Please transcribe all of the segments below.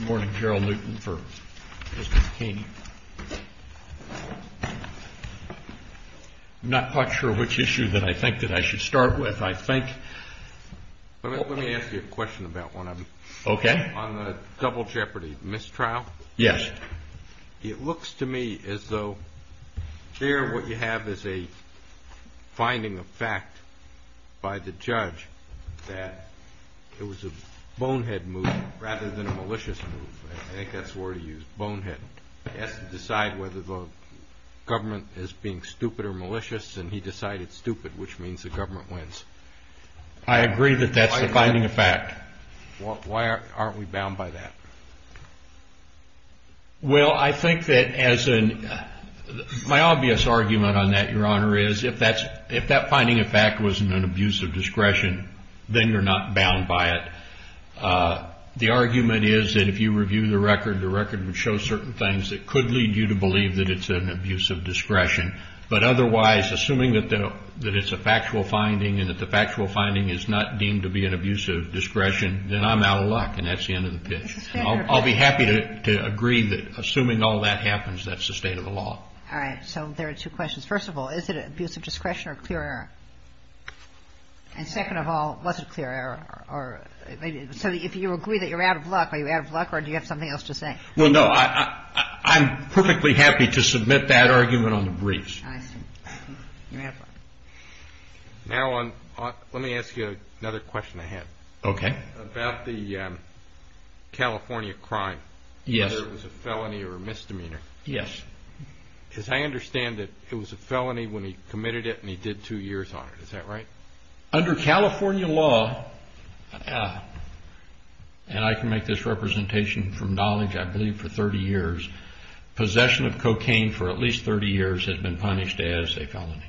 I'm not quite sure which issue that I think that I should start with. I think... Let me ask you a question about one of them. Okay. On the double jeopardy mistrial. Yes. It looks to me as though here what you have is a finding of fact by the judge that it was a bonehead move rather than a malicious move. I think that's the word he used, bonehead. He has to decide whether the government is being stupid or malicious, and he decided stupid, which means the government wins. I agree that that's the finding of fact. Why aren't we bound by that? Well, I think that as an... My obvious argument on that, Your Honor, is if that finding of fact was an abuse of discretion, then you're not bound by it. The argument is that if you review the record, the record would show certain things that could lead you to believe that it's an abuse of discretion. But otherwise, assuming that it's a factual finding and that the factual finding is not deemed to be an abuse of discretion, then I'm out of luck and that's the end of the pitch. I'll be happy to agree that assuming all that happens, that's the state of the law. All right. So there are two questions. First of all, is it abuse of discretion or clear error? And second of all, was it clear error? So if you agree that you're out of luck, are you out of luck or do you have something else to say? Well, no. I'm perfectly happy to submit that argument on the briefs. I see. You have one. Now, let me ask you another question I had. Okay. About the California crime. Yes. Whether it was a felony or a misdemeanor. Yes. Because I understand that it was a felony when he committed it and he did two years on it. Is that right? Under California law, and I can make this representation from knowledge, I believe for 30 years, possession of cocaine for at least 30 years had been punished as a felony.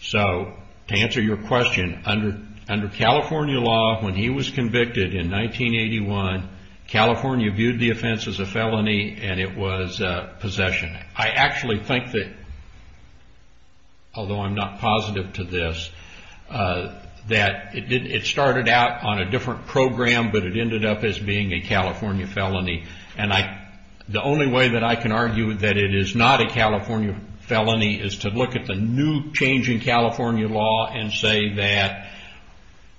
So to answer your question, under California law, when he was convicted in 1981, California viewed the offense as a felony and it was possession. I actually think that, although I'm not positive to this, that it started out on a different program, but it ended up as being a California felony. And the only way that I can argue that it is not a California felony is to look at the new changing California law and say that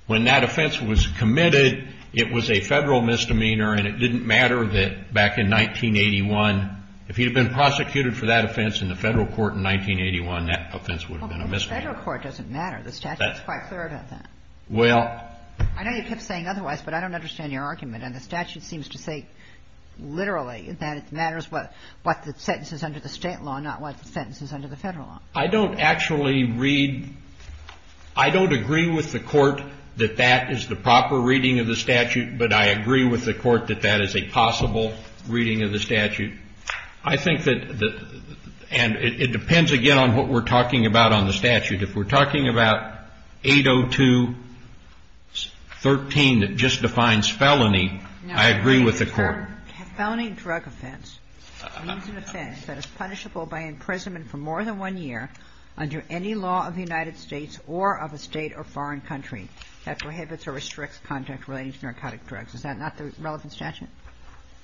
when that offense was committed, it was a federal misdemeanor and it didn't matter that back in 1981, if he had been prosecuted for that offense in the federal court in 1981, that offense would have been a misdemeanor. Well, but the federal court doesn't matter. The statute is quite clear about that. Well. I know you kept saying otherwise, but I don't understand your argument. And the statute seems to say literally that it matters what the sentence is under the State law, not what the sentence is under the federal law. I don't actually read – I don't agree with the court that that is the proper reading of the statute, but I agree with the court that that is a possible reading of the statute. I think that the – and it depends, again, on what we're talking about on the statute. If we're talking about 802.13 that just defines felony, I agree with the court. No. The term felony drug offense means an offense that is punishable by imprisonment for more than one year under any law of the United States or of a State or foreign country that prohibits or restricts conduct relating to narcotic drugs. Is that not the relevant statute?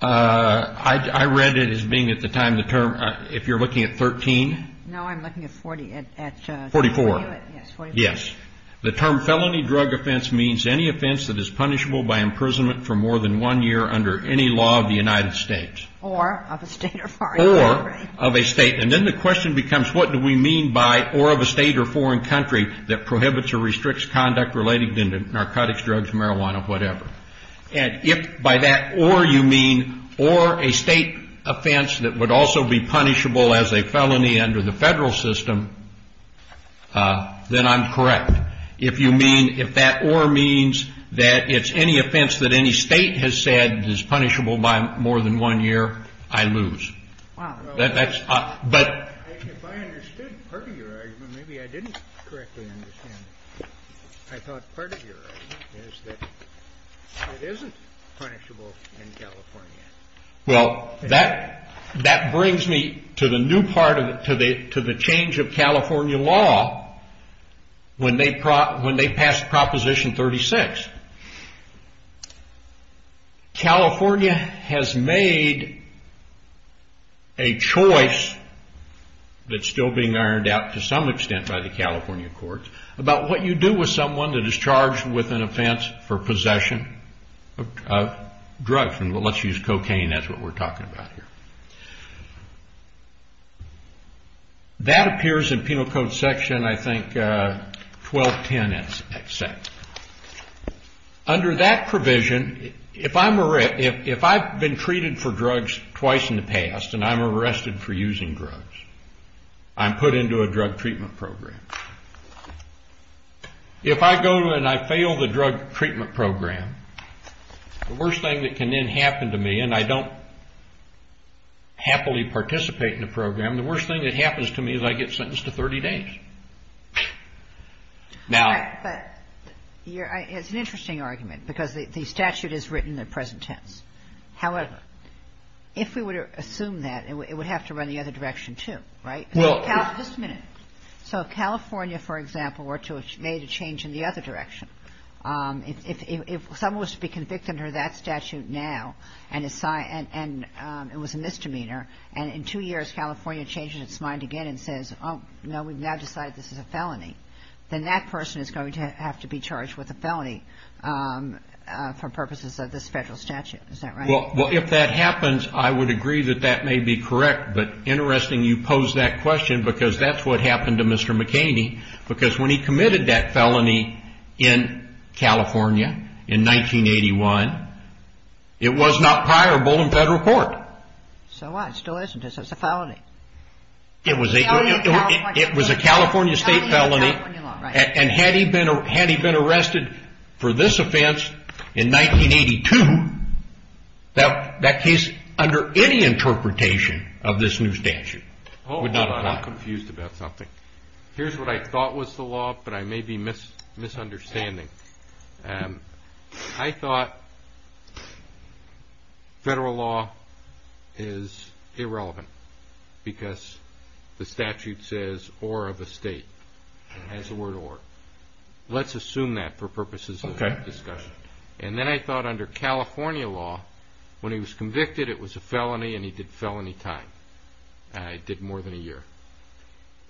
I read it as being at the time the term – if you're looking at 13. No, I'm looking at 40. 44. Yes, 44. Yes. The term felony drug offense means any offense that is punishable by imprisonment for more than one year under any law of the United States. Or of a State or foreign country. Or of a State. And then the question becomes what do we mean by or of a State or foreign country that prohibits or restricts conduct relating to narcotics, drugs, marijuana, whatever. And if by that or you mean or a State offense that would also be punishable as a felony under the Federal system, then I'm correct. If you mean if that or means that it's any offense that any State has said is punishable by more than one year, I lose. Wow. That's – but – If I understood part of your argument, maybe I didn't correctly understand it. I thought part of your argument is that it isn't punishable in California. Well, that brings me to the new part of it, to the change of California law when they passed Proposition 36. California has made a choice that's still being ironed out to some extent by the California courts about what you do with someone that is charged with an offense for possession of drugs. And let's use cocaine as what we're talking about here. That appears in Penal Code Section, I think, 1210, et cetera. Under that provision, if I'm – if I've been treated for drugs twice in the past and I'm arrested for using drugs, I'm put into a drug treatment program. If I go and I fail the drug treatment program, the worst thing that can then happen to me, and I don't happily participate in the program, the worst thing that happens to me is I get sentenced to 30 days. But it's an interesting argument because the statute is written in the present tense. However, if we were to assume that, it would have to run the other direction too, right? Just a minute. So if California, for example, were to have made a change in the other direction, if someone was to be convicted under that statute now and it was a misdemeanor, and in two years California changes its mind again and says, oh, no, we've now decided this is a felony, then that person is going to have to be charged with a felony for purposes of this federal statute. Is that right? Well, if that happens, I would agree that that may be correct. But interesting you pose that question because that's what happened to Mr. McKinney because when he committed that felony in California in 1981, it was not priorable in federal court. So what? It still isn't because it's a felony. It was a California state felony. And had he been arrested for this offense in 1982, that case under any interpretation of this new statute would not apply. Hold on. I'm confused about something. Here's what I thought was the law, but I may be misunderstanding. I thought federal law is irrelevant because the statute says or of a state. It has the word or. Let's assume that for purposes of discussion. And then I thought under California law, when he was convicted, it was a felony and he did felony time. It did more than a year.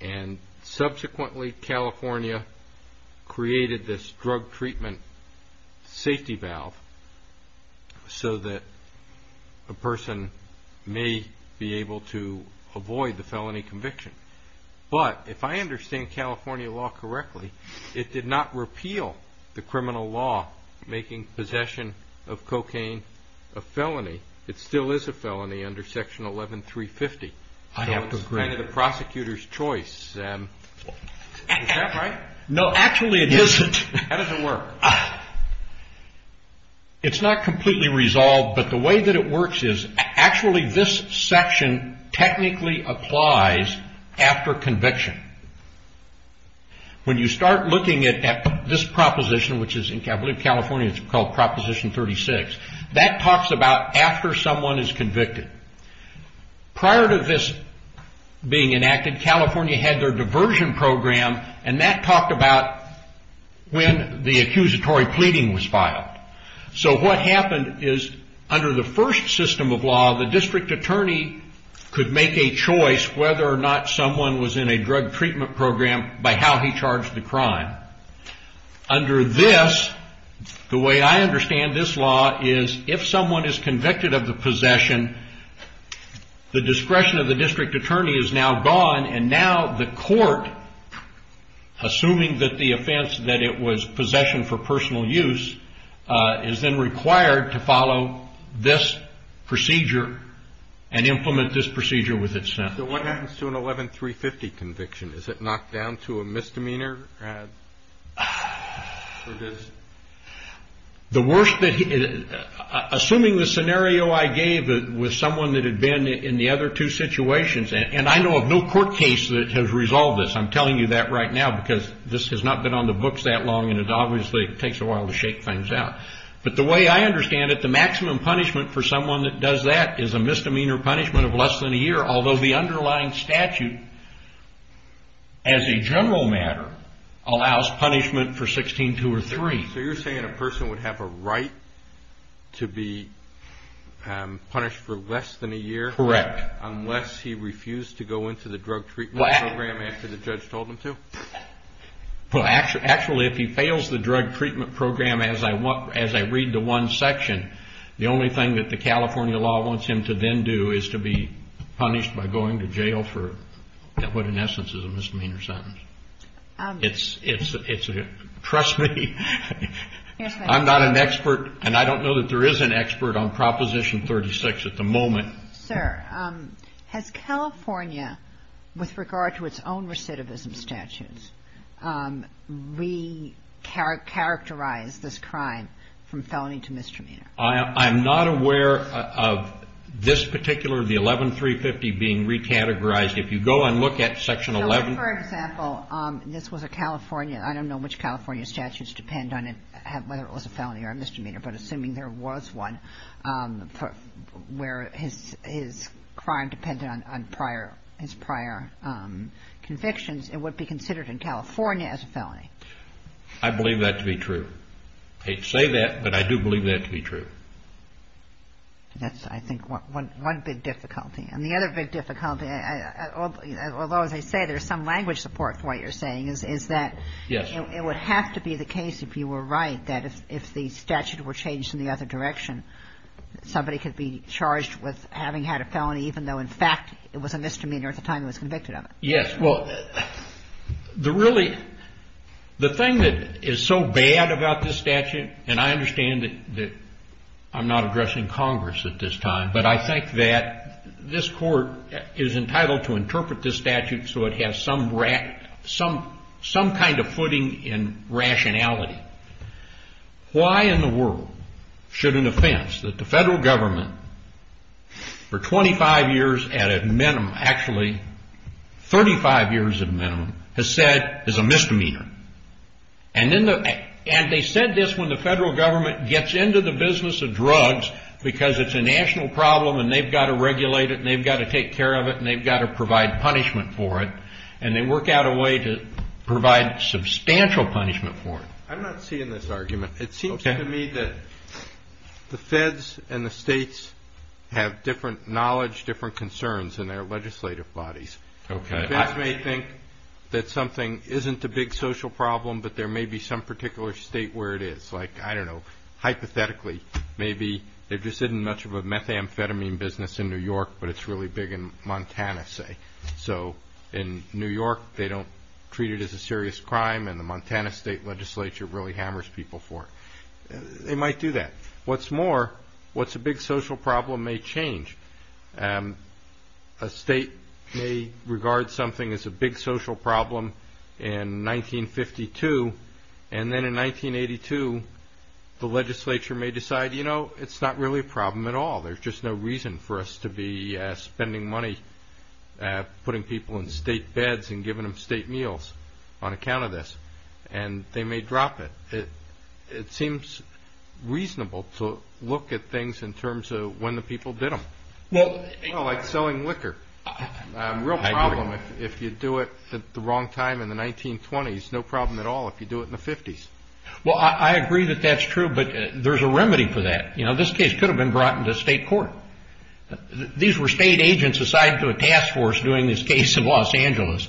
And subsequently California created this drug treatment safety valve so that a person may be able to avoid the felony conviction. But if I understand California law correctly, it did not repeal the criminal law making possession of cocaine a felony. It still is a felony under Section 11350. I have to agree. It's kind of the prosecutor's choice. Is that right? No, actually it isn't. How does it work? It's not completely resolved, but the way that it works is actually this section technically applies after conviction. When you start looking at this proposition, which is in California, it's called Proposition 36. That talks about after someone is convicted. Prior to this being enacted, California had their diversion program. And that talked about when the accusatory pleading was filed. So what happened is under the first system of law, the district attorney could make a choice whether or not someone was in a drug treatment program by how he charged the crime. Under this, the way I understand this law is if someone is convicted of the possession, the discretion of the district attorney is now gone. And now the court, assuming that the offense that it was possession for personal use, is then required to follow this procedure and implement this procedure with its sentence. So what happens to an 11-350 conviction? Is it knocked down to a misdemeanor? Assuming the scenario I gave was someone that had been in the other two situations, and I know of no court case that has resolved this. I'm telling you that right now because this has not been on the books that long, and it obviously takes a while to shake things out. But the way I understand it, the maximum punishment for someone that does that is a misdemeanor punishment of less than a year. Although the underlying statute, as a general matter, allows punishment for 16-2 or 3. So you're saying a person would have a right to be punished for less than a year? Correct. Unless he refused to go into the drug treatment program after the judge told him to? Well, actually, if he fails the drug treatment program, as I read the one section, the only thing that the California law wants him to then do is to be punished by going to jail for what in essence is a misdemeanor sentence. Trust me, I'm not an expert, and I don't know that there is an expert on Proposition 36 at the moment. Sir, has California, with regard to its own recidivism statutes, re-characterized this crime from felony to misdemeanor? I'm not aware of this particular, the 11-350, being re-categorized. If you go and look at Section 11. For example, this was a California, I don't know which California statutes depend on it, whether it was a felony or a misdemeanor, but assuming there was one where his crime depended on his prior convictions, it would be considered in California as a felony. I believe that to be true. I hate to say that, but I do believe that to be true. That's, I think, one big difficulty. And the other big difficulty, although, as I say, there's some language support for what you're saying, is that it would have to be the case, if you were right, that if the statute were changed in the other direction, somebody could be charged with having had a felony, even though, in fact, it was a misdemeanor at the time he was convicted of it. Yes. Well, the really, the thing that is so bad about this statute, and I understand that I'm not addressing Congress at this time, but I think that this court is entitled to interpret this statute so it has some kind of footing in rationality. Why in the world should an offense that the federal government for 25 years at a minimum, actually 35 years at a minimum, has said is a misdemeanor? And they said this when the federal government gets into the business of drugs because it's a national problem and they've got to regulate it and they've got to take care of it and they've got to provide punishment for it, and they work out a way to provide substantial punishment for it. I'm not seeing this argument. It seems to me that the feds and the states have different knowledge, different concerns in their legislative bodies. Okay. The feds may think that something isn't a big social problem, but there may be some particular state where it is. Like, I don't know, hypothetically, maybe they've just had much of a methamphetamine business in New York, but it's really big in Montana, say. So in New York, they don't treat it as a serious crime, and the Montana state legislature really hammers people for it. They might do that. What's more, what's a big social problem may change. A state may regard something as a big social problem in 1952, and then in 1982 the legislature may decide, you know, it's not really a problem at all. There's just no reason for us to be spending money putting people in state beds and giving them state meals on account of this, and they may drop it. It seems reasonable to look at things in terms of when the people did them. Like selling liquor. A real problem if you do it at the wrong time in the 1920s. No problem at all if you do it in the 50s. Well, I agree that that's true, but there's a remedy for that. You know, this case could have been brought into state court. These were state agents assigned to a task force doing this case in Los Angeles.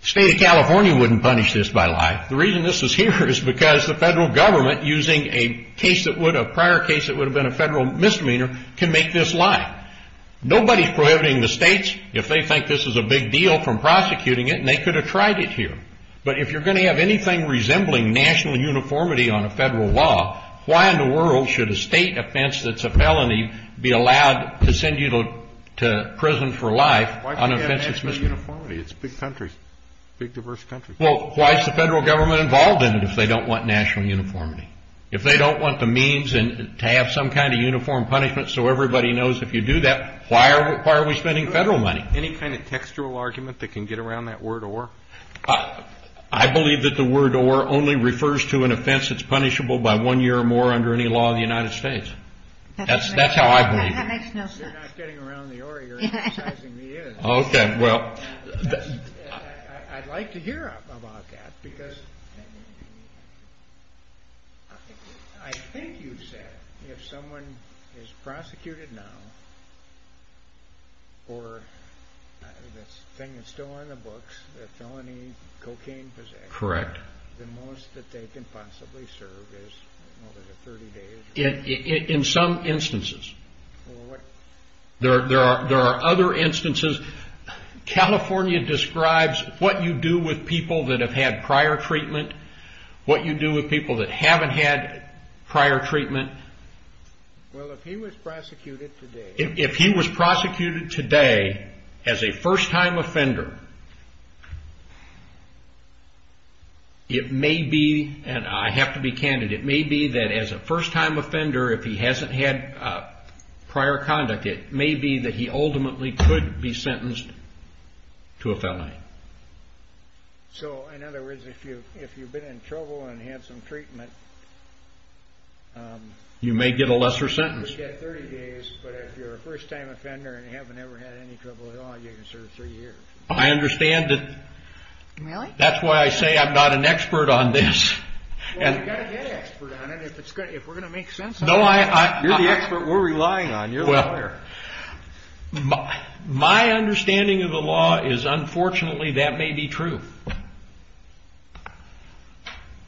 The state of California wouldn't punish this by law. Why? The reason this is here is because the federal government, using a prior case that would have been a federal misdemeanor, can make this lie. Nobody's prohibiting the states if they think this is a big deal from prosecuting it, and they could have tried it here. But if you're going to have anything resembling national uniformity on a federal law, why in the world should a state offense that's a felony be allowed to send you to prison for life on an offense that's misdemeanor? Why can't it have national uniformity? It's big countries, big diverse countries. Well, why is the federal government involved in it if they don't want national uniformity? If they don't want the means to have some kind of uniform punishment so everybody knows if you do that, why are we spending federal money? Any kind of textual argument that can get around that word or? I believe that the word or only refers to an offense that's punishable by one year or more under any law in the United States. That's how I believe it. That makes no sense. You're not getting around the or, you're emphasizing the is. Okay. I'd like to hear about that because I think you've said if someone is prosecuted now for the thing that's still in the books, the felony cocaine possession, the most that they can possibly serve is over the 30 days. In some instances. There are other instances. California describes what you do with people that have had prior treatment, what you do with people that haven't had prior treatment. Well, if he was prosecuted today. If he was prosecuted today as a first-time offender, it may be, and I have to be candid, it may be that as a first-time offender, if he hasn't had prior conduct, it may be that he ultimately could be sentenced to a felony. So, in other words, if you've been in trouble and had some treatment. You may get a lesser sentence. You get 30 days, but if you're a first-time offender and you haven't ever had any trouble at all, you can serve three years. I understand that. Really? That's why I say I'm not an expert on this. Well, you've got to get an expert on it if we're going to make sense of it. You're the expert we're relying on. You're the lawyer. My understanding of the law is, unfortunately, that may be true.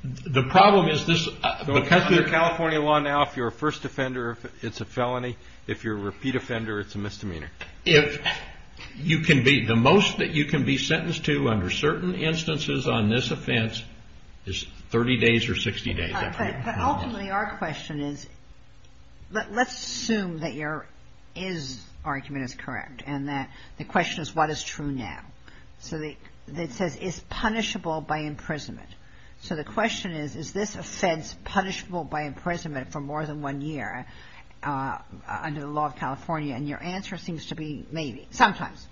The problem is this. According to California law now, if you're a first offender, it's a felony. If you're a repeat offender, it's a misdemeanor. The most that you can be sentenced to under certain instances on this offense is 30 days or 60 days. Ultimately, our question is, let's assume that your is argument is correct and that the question is, what is true now? So it says, is punishable by imprisonment? So the question is, is this offense punishable by imprisonment for more than one year under the law of California? And your answer seems to be maybe, sometimes.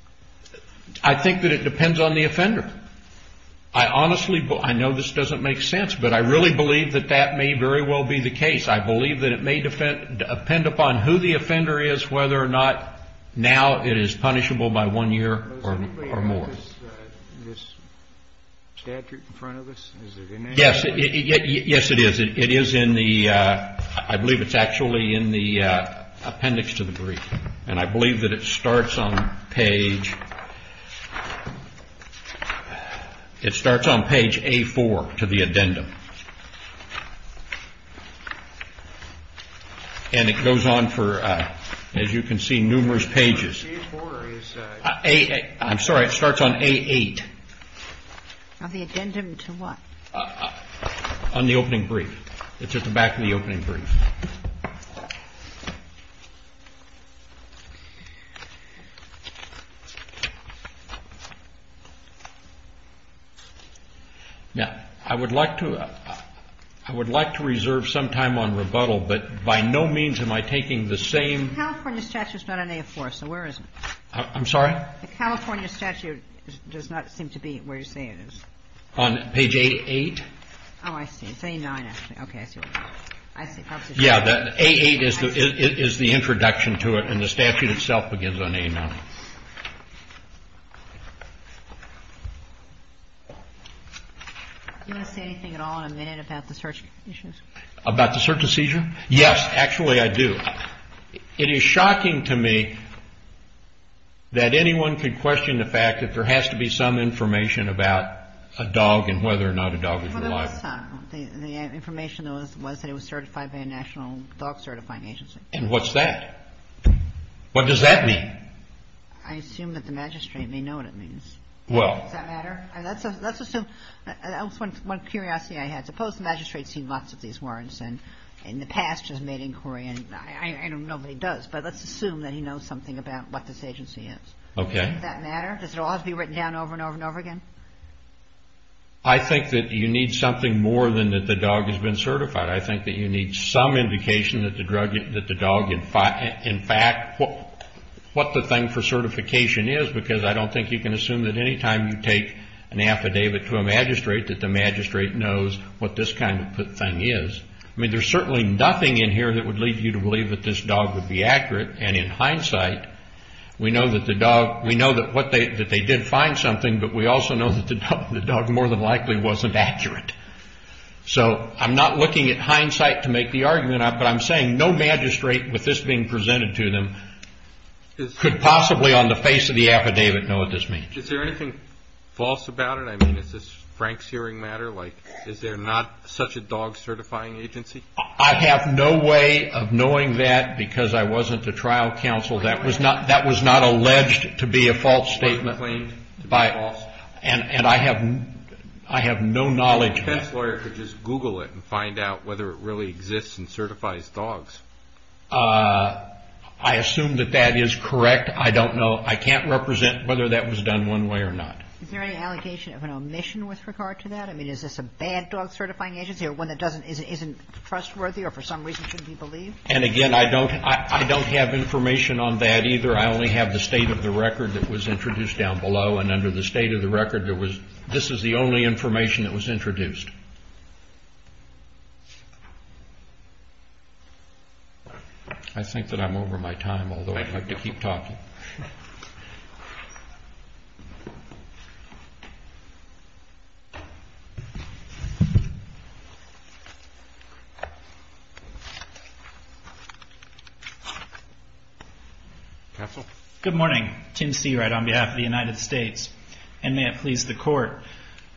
I think that it depends on the offender. I honestly – I know this doesn't make sense, but I really believe that that may very well be the case. I believe that it may depend upon who the offender is, whether or not now it is punishable by one year or more. Is this statute in front of us? Is it in there? Yes, it is. It is in the – I believe it's actually in the appendix to the brief. And I believe that it starts on page – it starts on page A-4 to the addendum. And it goes on for, as you can see, numerous pages. Page A-4 is – I'm sorry. It starts on A-8. On the addendum to what? On the opening brief. It's at the back of the opening brief. Now, I would like to – I would like to reserve some time on rebuttal, but by no means am I taking the same – The California statute is not on A-4, so where is it? I'm sorry? The California statute does not seem to be where you're saying it is. On page A-8? Oh, I see. It's A-9, actually. Okay, I see what you mean. I see. Yeah, A-8 is the introduction to it, and the statute itself begins on A-9. Do you want to say anything at all in a minute about the search decisions? About the search decision? Yes. Actually, I do. It is shocking to me that anyone could question the fact that there has to be some information about a dog and whether or not a dog is reliable. Well, there was some. The information was that it was certified by a national dog certifying agency. And what's that? What does that mean? I assume that the magistrate may know what it means. Well – Does that matter? Let's assume – that was one curiosity I had. I suppose the magistrate's seen lots of these warrants, and in the past has made inquiry, and I know nobody does, but let's assume that he knows something about what this agency is. Okay. Does that matter? Does it all have to be written down over and over and over again? I think that you need something more than that the dog has been certified. I think that you need some indication that the dog, in fact, what the thing for certification is, because I don't think you can assume that anytime you take an affidavit to a magistrate that the magistrate knows what this kind of thing is. I mean, there's certainly nothing in here that would lead you to believe that this dog would be accurate, and in hindsight, we know that the dog – we know that they did find something, but we also know that the dog more than likely wasn't accurate. So I'm not looking at hindsight to make the argument, but I'm saying no magistrate, with this being presented to them, could possibly on the face of the affidavit know what this means. Is there anything false about it? I mean, is this Frank's hearing matter? Like, is there not such a dog certifying agency? I have no way of knowing that because I wasn't a trial counsel. That was not alleged to be a false statement. Was it claimed to be false? And I have no knowledge of that. A defense lawyer could just Google it and find out whether it really exists and certifies dogs. I assume that that is correct. I don't know. I can't represent whether that was done one way or not. Is there any allegation of an omission with regard to that? I mean, is this a bad dog certifying agency or one that isn't trustworthy or for some reason shouldn't be believed? And again, I don't have information on that either. I only have the state of the record that was introduced down below, and under the state of the record, this is the only information that was introduced. I think that I'm over my time, although I'd like to keep talking. Counsel? Good morning. Tim Seawright on behalf of the United States. And may it please the Court.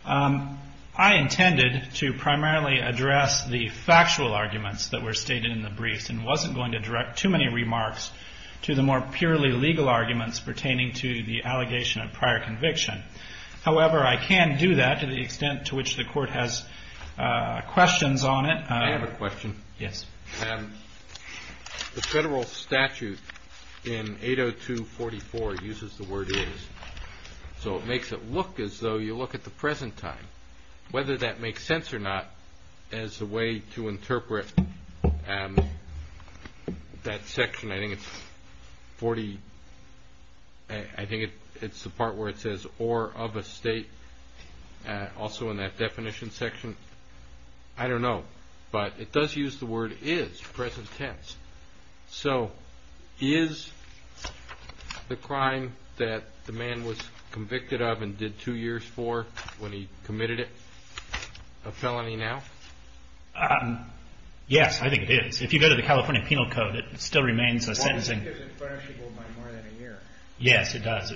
I intended to primarily address the factual arguments that were stated in the briefs and wasn't going to direct too many remarks to the more purely legal arguments pertaining to the allegation of prior conviction. However, I can do that to the extent to which the Court has questions on it. I have a question. Yes. The federal statute in 802.44 uses the word is, so it makes it look as though you look at the present time. Whether that makes sense or not as a way to interpret that section, I think it's the part where it says or of a state, also in that definition section, I don't know. But it does use the word is, present tense. So is the crime that the man was convicted of and did two years for when he committed it a felony now? Yes, I think it is. If you go to the California Penal Code, it still remains a sentencing. Well, because it punishes people by more than a year. Yes, it does.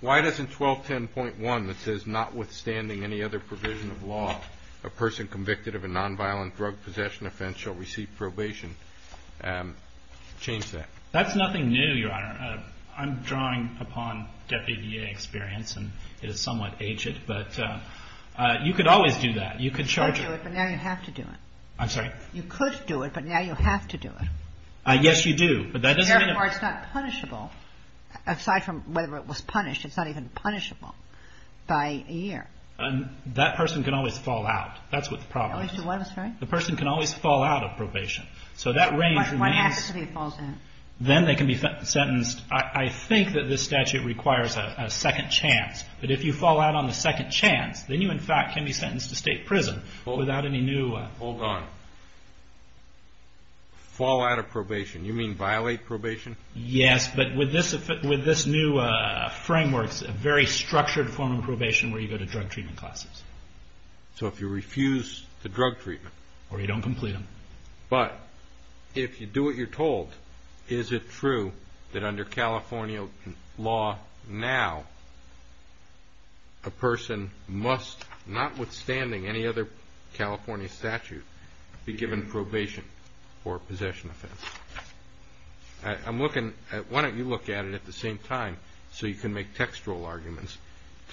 Why doesn't 1210.1 that says notwithstanding any other provision of law, a person convicted of a nonviolent drug possession offense shall receive probation change that? That's nothing new, Your Honor. I'm drawing upon deputy DA experience, and it is somewhat aged. But you could always do that. You could charge it. You could do it, but now you have to do it. I'm sorry? You could do it, but now you have to do it. Yes, you do. Therefore, it's not punishable. Aside from whether it was punished, it's not even punishable by a year. That person can always fall out. That's what the problem is. I'm sorry? The person can always fall out of probation. So that range remains. What activity falls out? Then they can be sentenced. I think that this statute requires a second chance, but if you fall out on the second chance, then you in fact can be sentenced to state prison without any new. Hold on. Fall out of probation. You mean violate probation? Yes, but with this new framework, it's a very structured form of probation where you go to drug treatment classes. So if you refuse the drug treatment. Or you don't complete them. But if you do what you're told, is it true that under California law now a person must, notwithstanding any other California statute, be given probation or possession offense? Why don't you look at it at the same time so you can make textual arguments.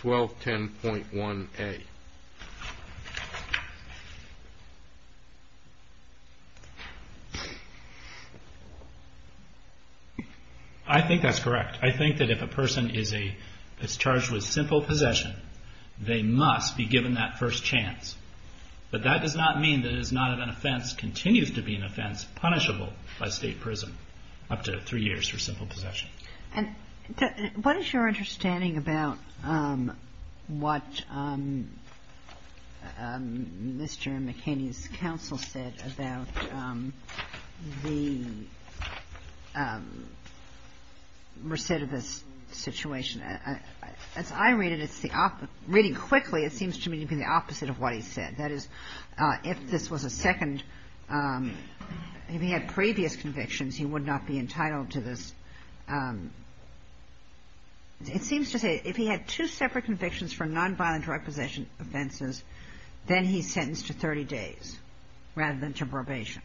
1210.1a. I think that's correct. I think that if a person is charged with simple possession, they must be given that first chance. But that does not mean that it is not an offense, continues to be an offense, punishable by state prison, up to three years for simple possession. And what is your understanding about what Mr. McKinney's counsel said about the recidivist situation? As I read it, reading quickly, it seems to me to be the opposite of what he said. That is, if this was a second, if he had previous convictions, he would not be entitled to this. It seems to say if he had two separate convictions for nonviolent drug possession offenses, then he's sentenced to 30 days rather than to probation.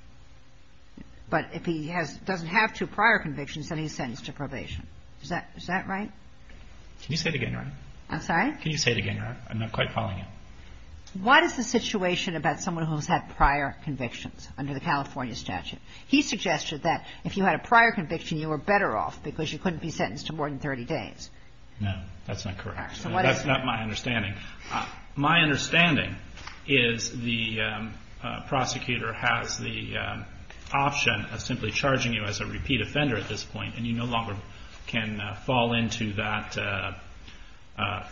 But if he doesn't have two prior convictions, then he's sentenced to probation. Is that right? Can you say it again, Your Honor? I'm sorry? Can you say it again, Your Honor? I'm not quite following it. What is the situation about someone who has had prior convictions under the California statute? He suggested that if you had a prior conviction, you were better off because you couldn't be sentenced to more than 30 days. No. That's not correct. That's not my understanding. My understanding is the prosecutor has the option of simply charging you as a repeat offender at this point, and you no longer can fall into that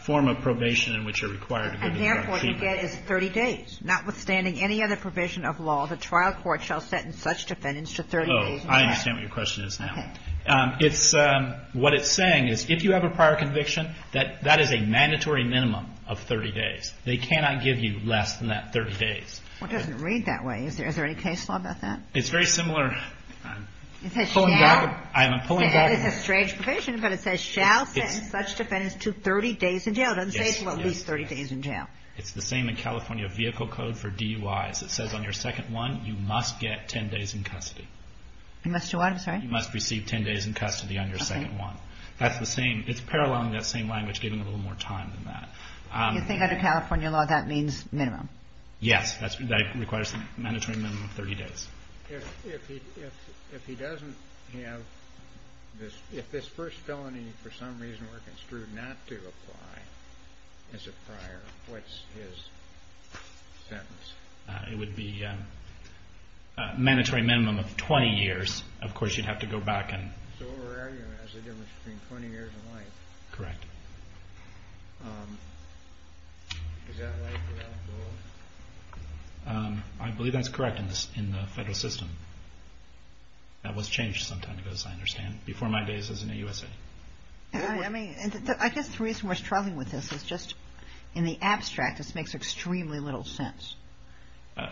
form of probation in which you're required to go to the drug treatment. And therefore, what you get is 30 days. Notwithstanding any other provision of law, the trial court shall sentence such defendants to 30 days in jail. Oh, I understand what your question is now. Okay. What it's saying is if you have a prior conviction, that is a mandatory minimum of 30 days. They cannot give you less than that 30 days. Well, it doesn't read that way. Is there any case law about that? It's very similar. Is it shared? I'm pulling back. That is a strange provision, but it says shall sentence such defendants to 30 days in jail. It doesn't say at least 30 days in jail. It's the same in California vehicle code for DUIs. It says on your second one, you must get 10 days in custody. You must do what? I'm sorry? You must receive 10 days in custody on your second one. That's the same. It's paralleling that same language, giving a little more time than that. You think under California law, that means minimum? Yes. That requires a mandatory minimum of 30 days. If he doesn't have this, if this first felony for some reason were construed not to apply as a prior, what's his sentence? It would be a mandatory minimum of 20 years. Of course, you'd have to go back and... So what we're arguing is there's a difference between 20 years and life. Correct. Is that right for that rule? I believe that's correct in the federal system. That was changed some time ago, as I understand. Before my days as an AUSA. I guess the reason we're struggling with this is just in the abstract, this makes extremely little sense. In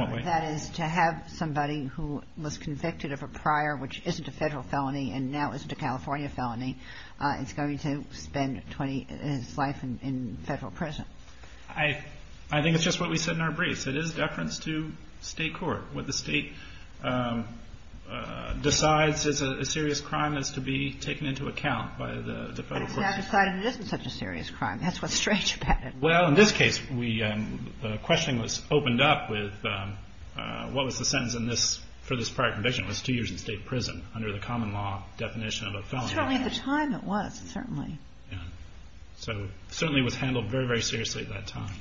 what way? That is, to have somebody who was convicted of a prior, which isn't a federal felony, and now isn't a California felony, is going to spend his life in federal prison. I think it's just what we said in our briefs. It is deference to state court. What the state decides is a serious crime is to be taken into account by the federal court. I decided it isn't such a serious crime. That's what's strange about it. Well, in this case, the questioning was opened up with what was the sentence for this prior conviction? It was two years in state prison under the common law definition of a felony. Certainly at the time it was, certainly. Certainly was handled very, very seriously at that time.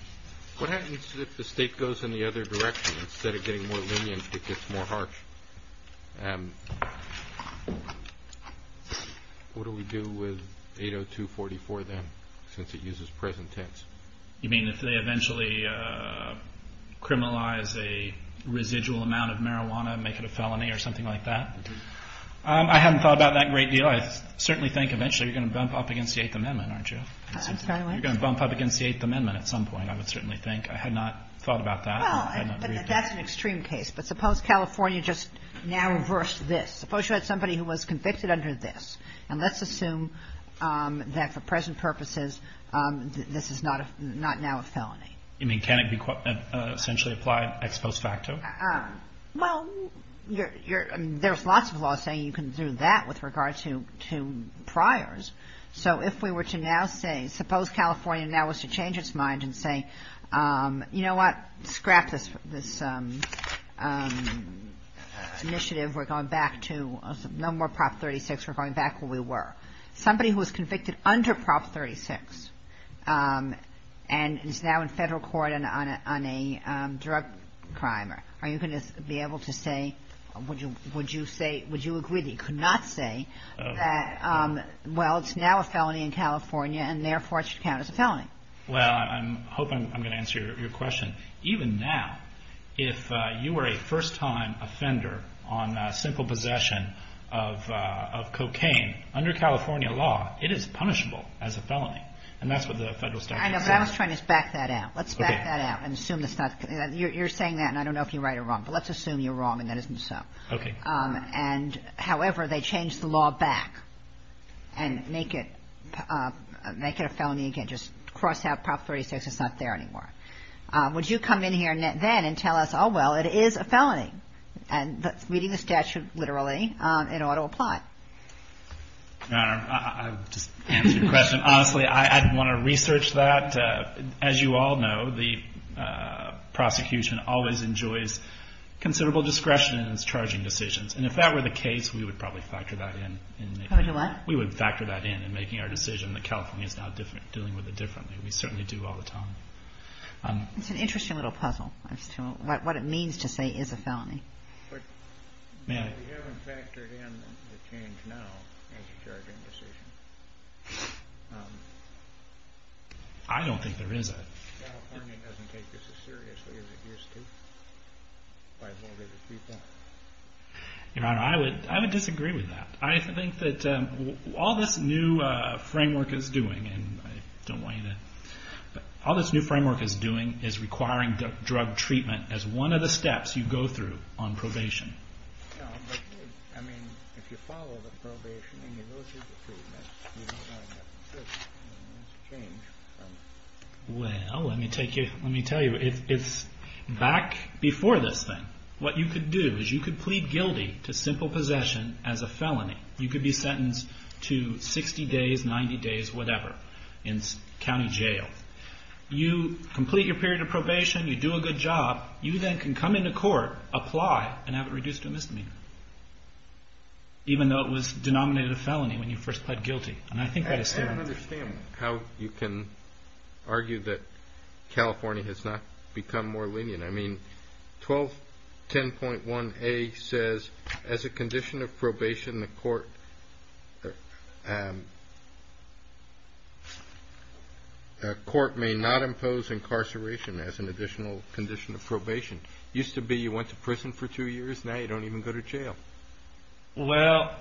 What happens if the state goes in the other direction? Instead of getting more lenient, it gets more harsh. What do we do with 80244 then, since it uses present tense? You mean if they eventually criminalize a residual amount of marijuana, make it a felony or something like that? I haven't thought about that a great deal. Well, I certainly think eventually you're going to bump up against the Eighth Amendment, aren't you? I'm sorry, what? You're going to bump up against the Eighth Amendment at some point, I would certainly think. I had not thought about that. Well, but that's an extreme case. But suppose California just now reversed this. Suppose you had somebody who was convicted under this. And let's assume that for present purposes this is not now a felony. You mean can it be essentially applied ex post facto? Well, there's lots of laws saying you can do that with regard to priors. So if we were to now say, suppose California now was to change its mind and say, you know what? Scrap this initiative. We're going back to no more Prop 36. We're going back where we were. Somebody who was convicted under Prop 36 and is now in federal court on a drug crime, are you going to be able to say, would you agree that you could not say that, well, it's now a felony in California and therefore it should count as a felony? Well, I'm hoping I'm going to answer your question. Even now, if you were a first-time offender on simple possession of cocaine, under California law it is punishable as a felony. And that's what the federal statute says. I know, but I was trying to back that out. Let's back that out and assume it's not. You're saying that and I don't know if you're right or wrong, but let's assume you're wrong and that isn't so. Okay. And, however, they change the law back and make it a felony again. Just cross out Prop 36. It's not there anymore. Would you come in here then and tell us, oh, well, it is a felony? And that's meeting the statute literally, it ought to apply. Your Honor, I would just answer your question. Honestly, I'd want to research that. As you all know, the prosecution always enjoys considerable discretion in its charging decisions. And if that were the case, we would probably factor that in. We would factor that in in making our decision that California is now dealing with it differently. We certainly do all the time. It's an interesting little puzzle as to what it means to say it is a felony. But we haven't factored in the change now as a charging decision. I don't think there is a. California doesn't take this as seriously as it used to by a vote of the people. Your Honor, I would disagree with that. I think that all this new framework is doing, and I don't want you to. All this new framework is doing is requiring drug treatment as one of the steps you go through on probation. I mean, if you follow the probation and you go through the treatment, you don't have to change. Well, let me tell you, it's back before this thing. What you could do is you could plead guilty to simple possession as a felony. You could be sentenced to 60 days, 90 days, whatever, in county jail. You complete your period of probation. You do a good job. You then can come into court, apply, and have it reduced to a misdemeanor, even though it was denominated a felony when you first pled guilty. And I think that is still. I don't understand how you can argue that California has not become more lenient. I mean, 1210.1a says, as a condition of probation, the court may not impose incarceration as an additional condition of probation. It used to be you went to prison for two years. Now you don't even go to jail. Well,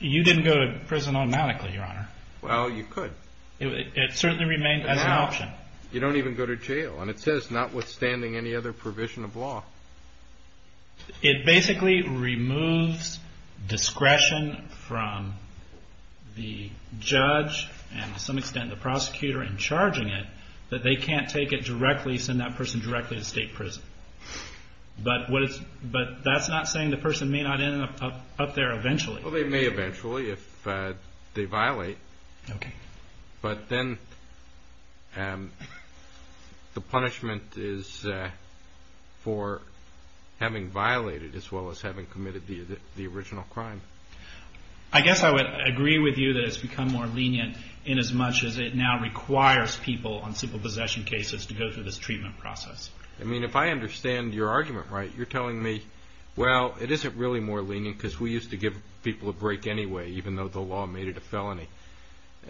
you didn't go to prison automatically, Your Honor. Well, you could. It certainly remained as an option. You don't even go to jail. And it says, notwithstanding any other provision of law. It basically removes discretion from the judge and, to some extent, the prosecutor in charging it, that they can't take it directly, send that person directly to state prison. But that's not saying the person may not end up there eventually. Well, they may eventually if they violate. Okay. But then the punishment is for having violated as well as having committed the original crime. I guess I would agree with you that it's become more lenient in as much as it now requires people on simple possession cases to go through this treatment process. I mean, if I understand your argument right, you're telling me, well, it isn't really more lenient because we used to give people a break anyway even though the law made it a felony.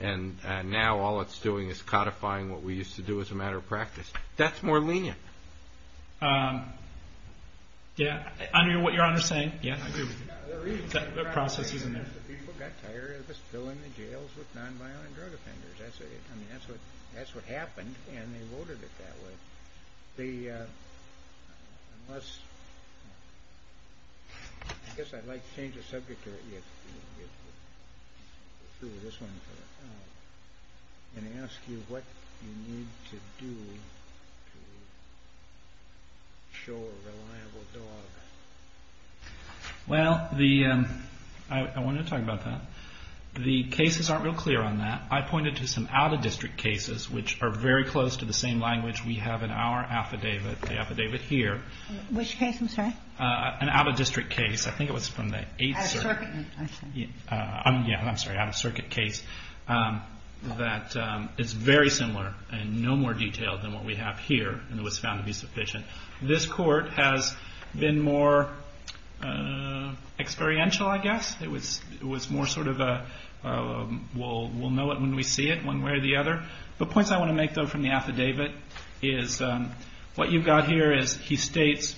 And now all it's doing is codifying what we used to do as a matter of practice. That's more lenient. Yeah. I agree with what Your Honor is saying. I agree with you. The process isn't there. People got tired of just filling the jails with nonviolent drug offenders. I mean, that's what happened, and they voted it that way. I guess I'd like to change the subject of this one and ask you what you need to do to show a reliable dog. Well, I want to talk about that. The cases aren't real clear on that. I pointed to some out-of-district cases which are very close to the same language we have in our affidavit, the affidavit here. Which case, I'm sorry? An out-of-district case. I think it was from the Eighth Circuit. I'm sorry, out-of-circuit case that is very similar and no more detailed than what we have here and was found to be sufficient. This Court has been more experiential, I guess. It was more sort of a we'll know it when we see it, one way or the other. The points I want to make, though, from the affidavit is what you've got here is he states,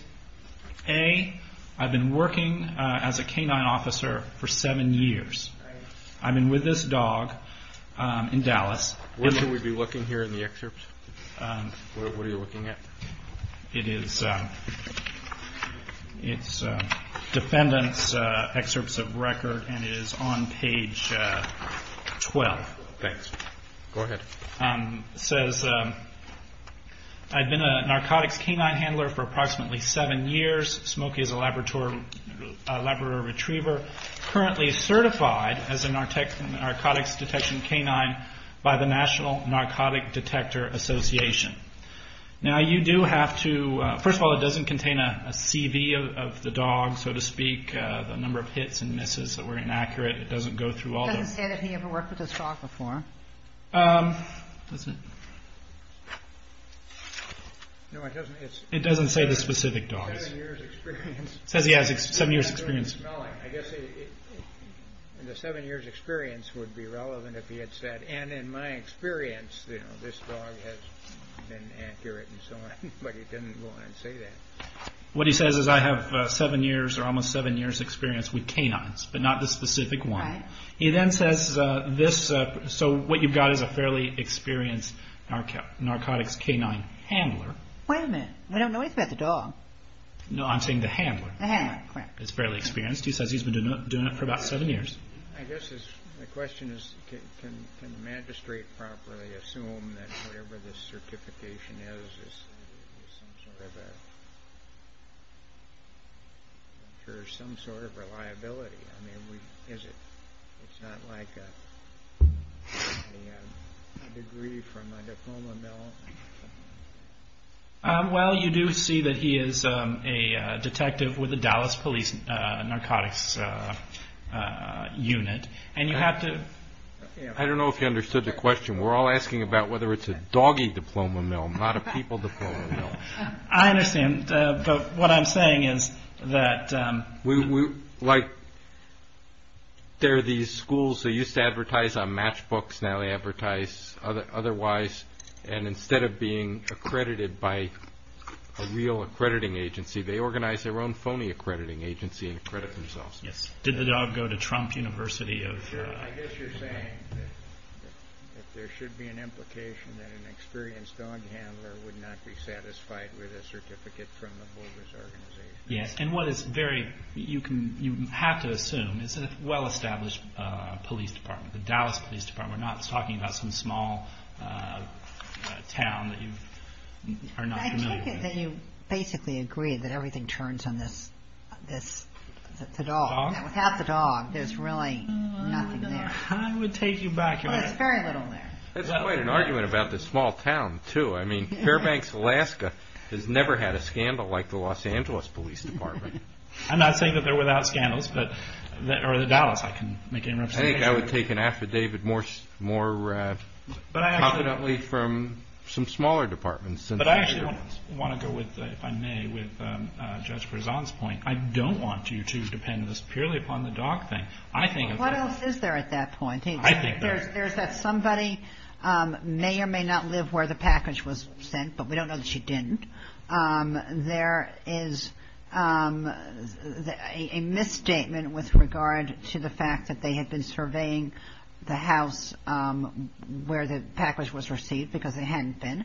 A, I've been working as a canine officer for seven years. I've been with this dog in Dallas. When can we be looking here in the excerpts? What are you looking at? It is defendant's excerpts of record, and it is on page 12. Thanks. Go ahead. It says, I've been a narcotics canine handler for approximately seven years. Smokey is a laboratory retriever, currently certified as a narcotics detection canine by the National Narcotic Detector Association. Now, you do have to, first of all, it doesn't contain a CV of the dog, so to speak, the number of hits and misses that were inaccurate. It doesn't go through all of them. It doesn't say that he ever worked with this dog before. No, it doesn't. It doesn't say the specific dog. Seven years' experience. It says he has seven years' experience. I guess the seven years' experience would be relevant if he had said, and in my experience, this dog has been accurate and so on, but he didn't go on and say that. What he says is, I have seven years' or almost seven years' experience with canines, but not the specific one. He then says, so what you've got is a fairly experienced narcotics canine handler. Wait a minute. We don't know anything about the dog. No, I'm saying the handler. The handler, correct. It's fairly experienced. He says he's been doing it for about seven years. I guess the question is, can the magistrate properly assume that whatever this certification is, there's some sort of reliability? I mean, it's not like a degree from a diploma mill. Well, you do see that he is a detective with the Dallas Police Narcotics Unit. I don't know if you understood the question. We're all asking about whether it's a doggy diploma mill, not a people diploma mill. I understand, but what I'm saying is that we're like, there are these schools that used to advertise on matchbooks. Now they advertise otherwise. Instead of being accredited by a real accrediting agency, they organize their own phony accrediting agency and accredit themselves. Did the dog go to Trump University? I guess you're saying that there should be an implication that an experienced dog handler would not be satisfied with a certificate from a bogus organization. Yes, and what is very, you have to assume, it's a well-established police department. We're not talking about some small town that you are not familiar with. I take it that you basically agree that everything turns on this dog. Without the dog, there's really nothing there. I would take you back on that. Well, there's very little there. That's quite an argument about this small town, too. I mean, Fairbanks, Alaska has never had a scandal like the Los Angeles Police Department. I'm not saying that they're without scandals, or the Dallas, I can make any representation. I think I would take an affidavit more confidently from some smaller departments. But I actually want to go with, if I may, with Judge Berzon's point. I don't want you to depend purely upon the dog thing. What else is there at that point? I think there's that somebody may or may not live where the package was sent, but we don't know that she didn't. There is a misstatement with regard to the fact that they had been surveying the house where the package was received because they hadn't been.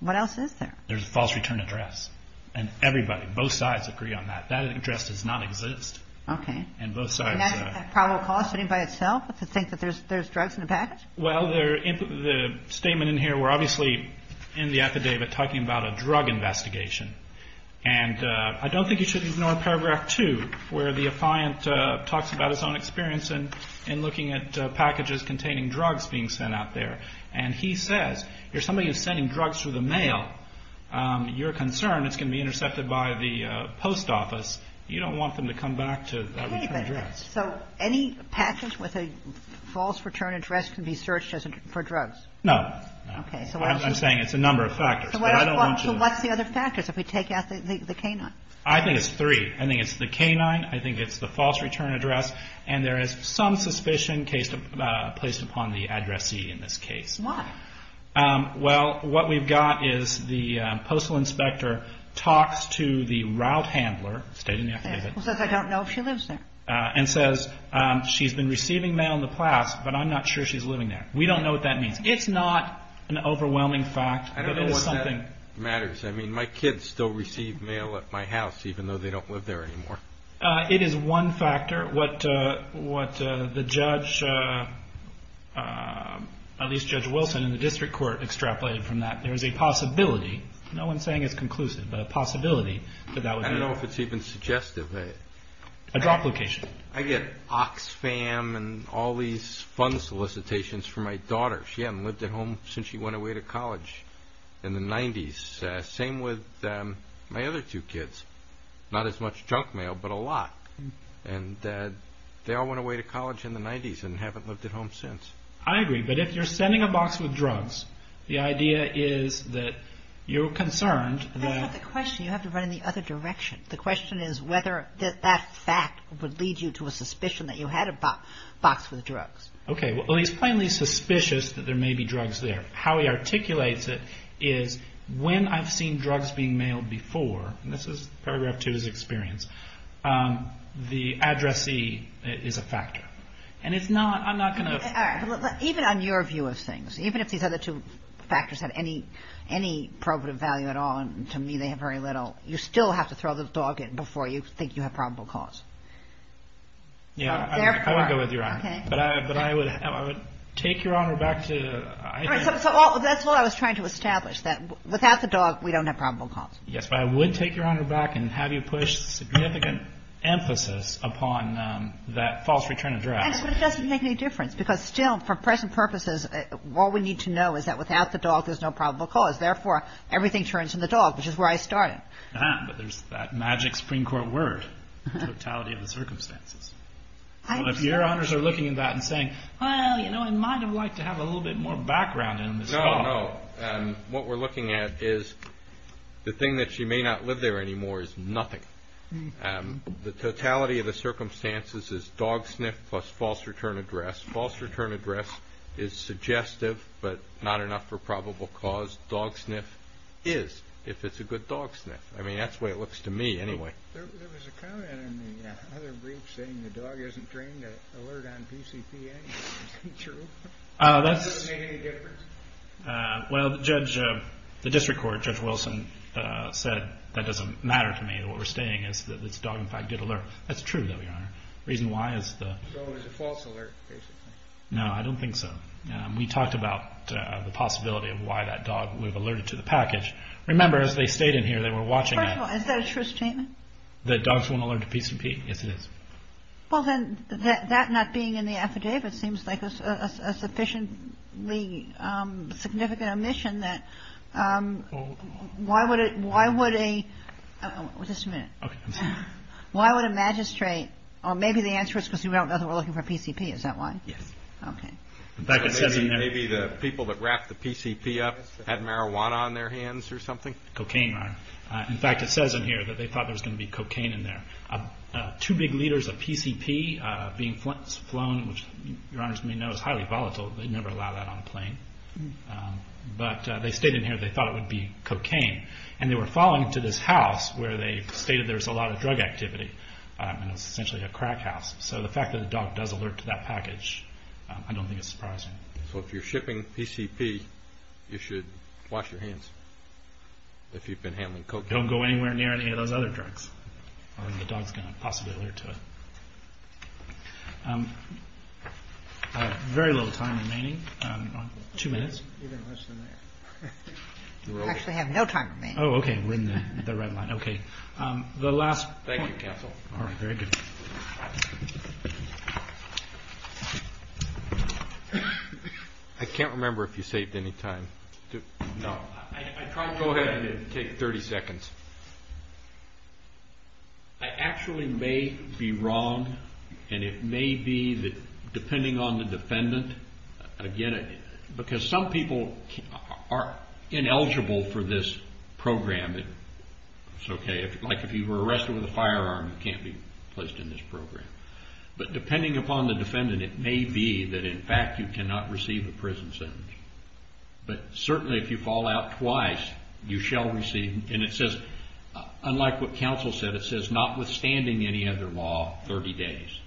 What else is there? There's a false return address. And everybody, both sides agree on that. That address does not exist. Okay. And that's a probable cause by itself, to think that there's drugs in the package? Well, the statement in here, we're obviously in the affidavit talking about a drug investigation. And I don't think you should ignore paragraph 2, where the affiant talks about his own experience in looking at packages containing drugs being sent out there. And he says, you're somebody who's sending drugs through the mail. You're concerned it's going to be intercepted by the post office. You don't want them to come back to that return address. So any package with a false return address can be searched for drugs? No. Okay. I'm saying it's a number of factors. So what's the other factors if we take out the canine? I think it's three. I think it's the canine. I think it's the false return address. And there is some suspicion placed upon the addressee in this case. Why? Well, what we've got is the postal inspector talks to the route handler, stated in the affidavit. Says I don't know if she lives there. And says she's been receiving mail in the past, but I'm not sure she's living there. We don't know what that means. It's not an overwhelming fact. I don't know what that matters. I mean, my kids still receive mail at my house, even though they don't live there anymore. It is one factor. What the judge, at least Judge Wilson in the district court, extrapolated from that, there is a possibility, no one's saying it's conclusive, but a possibility that that would be. I don't know if it's even suggestive. A drop location. I get Oxfam and all these fun solicitations for my daughter. She hadn't lived at home since she went away to college in the 90s. Same with my other two kids. Not as much junk mail, but a lot. And they all went away to college in the 90s and haven't lived at home since. I agree, but if you're sending a box with drugs, the idea is that you're concerned that That's not the question. You have to run in the other direction. The question is whether that fact would lead you to a suspicion that you had a box with drugs. Okay. Well, he's plainly suspicious that there may be drugs there. How he articulates it is, when I've seen drugs being mailed before, and this is paragraph two of his experience, the addressee is a factor. And it's not, I'm not going to Even on your view of things, even if these other two factors have any probative value at all, you still have to throw the dog in before you think you have probable cause. Yeah, I would go with you, Your Honor. But I would take Your Honor back to That's what I was trying to establish, that without the dog, we don't have probable cause. Yes, but I would take Your Honor back and have you push significant emphasis upon that false return address. But it doesn't make any difference, because still, for present purposes, all we need to know is that without the dog, there's no probable cause. Therefore, everything turns to the dog, which is where I started. But there's that magic Supreme Court word, totality of the circumstances. If Your Honors are looking at that and saying, Well, you know, I might have liked to have a little bit more background in this dog. No, no. What we're looking at is the thing that she may not live there anymore is nothing. The totality of the circumstances is dog sniff plus false return address. False return address is suggestive, but not enough for probable cause. Dog sniff is, if it's a good dog sniff. I mean, that's the way it looks to me, anyway. There was a comment in the other brief saying the dog isn't trained to alert on PCPA. Is that true? That doesn't make any difference. Well, the district court, Judge Wilson, said that doesn't matter to me. What we're saying is that this dog, in fact, did alert. That's true, though, Your Honor. The reason why is the So it was a false alert, basically. No, I don't think so. We talked about the possibility of why that dog would have alerted to the package. Remember, as they stayed in here, they were watching. First of all, is that a true statement? That dogs won't alert to PCP. Yes, it is. Well, then, that not being in the affidavit seems like a sufficiently significant omission that why would a Just a minute. Okay. Why would a magistrate, or maybe the answer is because we don't know that we're looking for PCP. Is that why? Yes. Okay. Maybe the people that wrapped the PCP up had marijuana on their hands or something? Cocaine, Your Honor. In fact, it says in here that they thought there was going to be cocaine in there. Two big liters of PCP being flown, which Your Honors may know is highly volatile. They never allow that on a plane. But they stayed in here. They thought it would be cocaine. And they were following to this house where they stated there was a lot of drug activity. And it was essentially a crack house. So the fact that the dog does alert to that package, I don't think it's surprising. So if you're shipping PCP, you should wash your hands if you've been handling cocaine. Don't go anywhere near any of those other drugs or the dog's going to possibly alert to it. I have very little time remaining. Two minutes. Even less than that. You actually have no time remaining. Oh, okay. We're in the red line. Okay. The last point. Thank you, counsel. All right. Very good. I can't remember if you saved any time. No. I tried to go ahead and take 30 seconds. I actually may be wrong, and it may be that depending on the defendant, because some people are ineligible for this program. It's okay. Like if you were arrested with a firearm, you can't be placed in this program. But depending upon the defendant, it may be that in fact you cannot receive a prison sentence. But certainly if you fall out twice, you shall receive. And it says, unlike what counsel said, it says notwithstanding any other law, 30 days.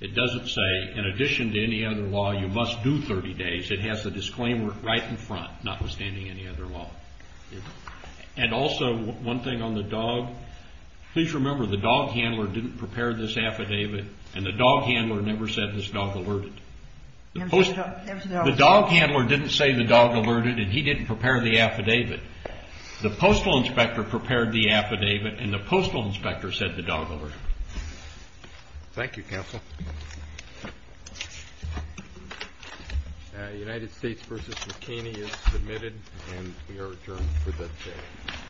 It doesn't say in addition to any other law, you must do 30 days. It has the disclaimer right in front, notwithstanding any other law. And also one thing on the dog. Please remember the dog handler didn't prepare this affidavit, and the dog handler never said this dog alerted. The dog handler didn't say the dog alerted, and he didn't prepare the affidavit. The postal inspector prepared the affidavit, and the postal inspector said the dog alerted. Thank you, counsel. The United States v. McKinney is submitted, and we are adjourned for this day.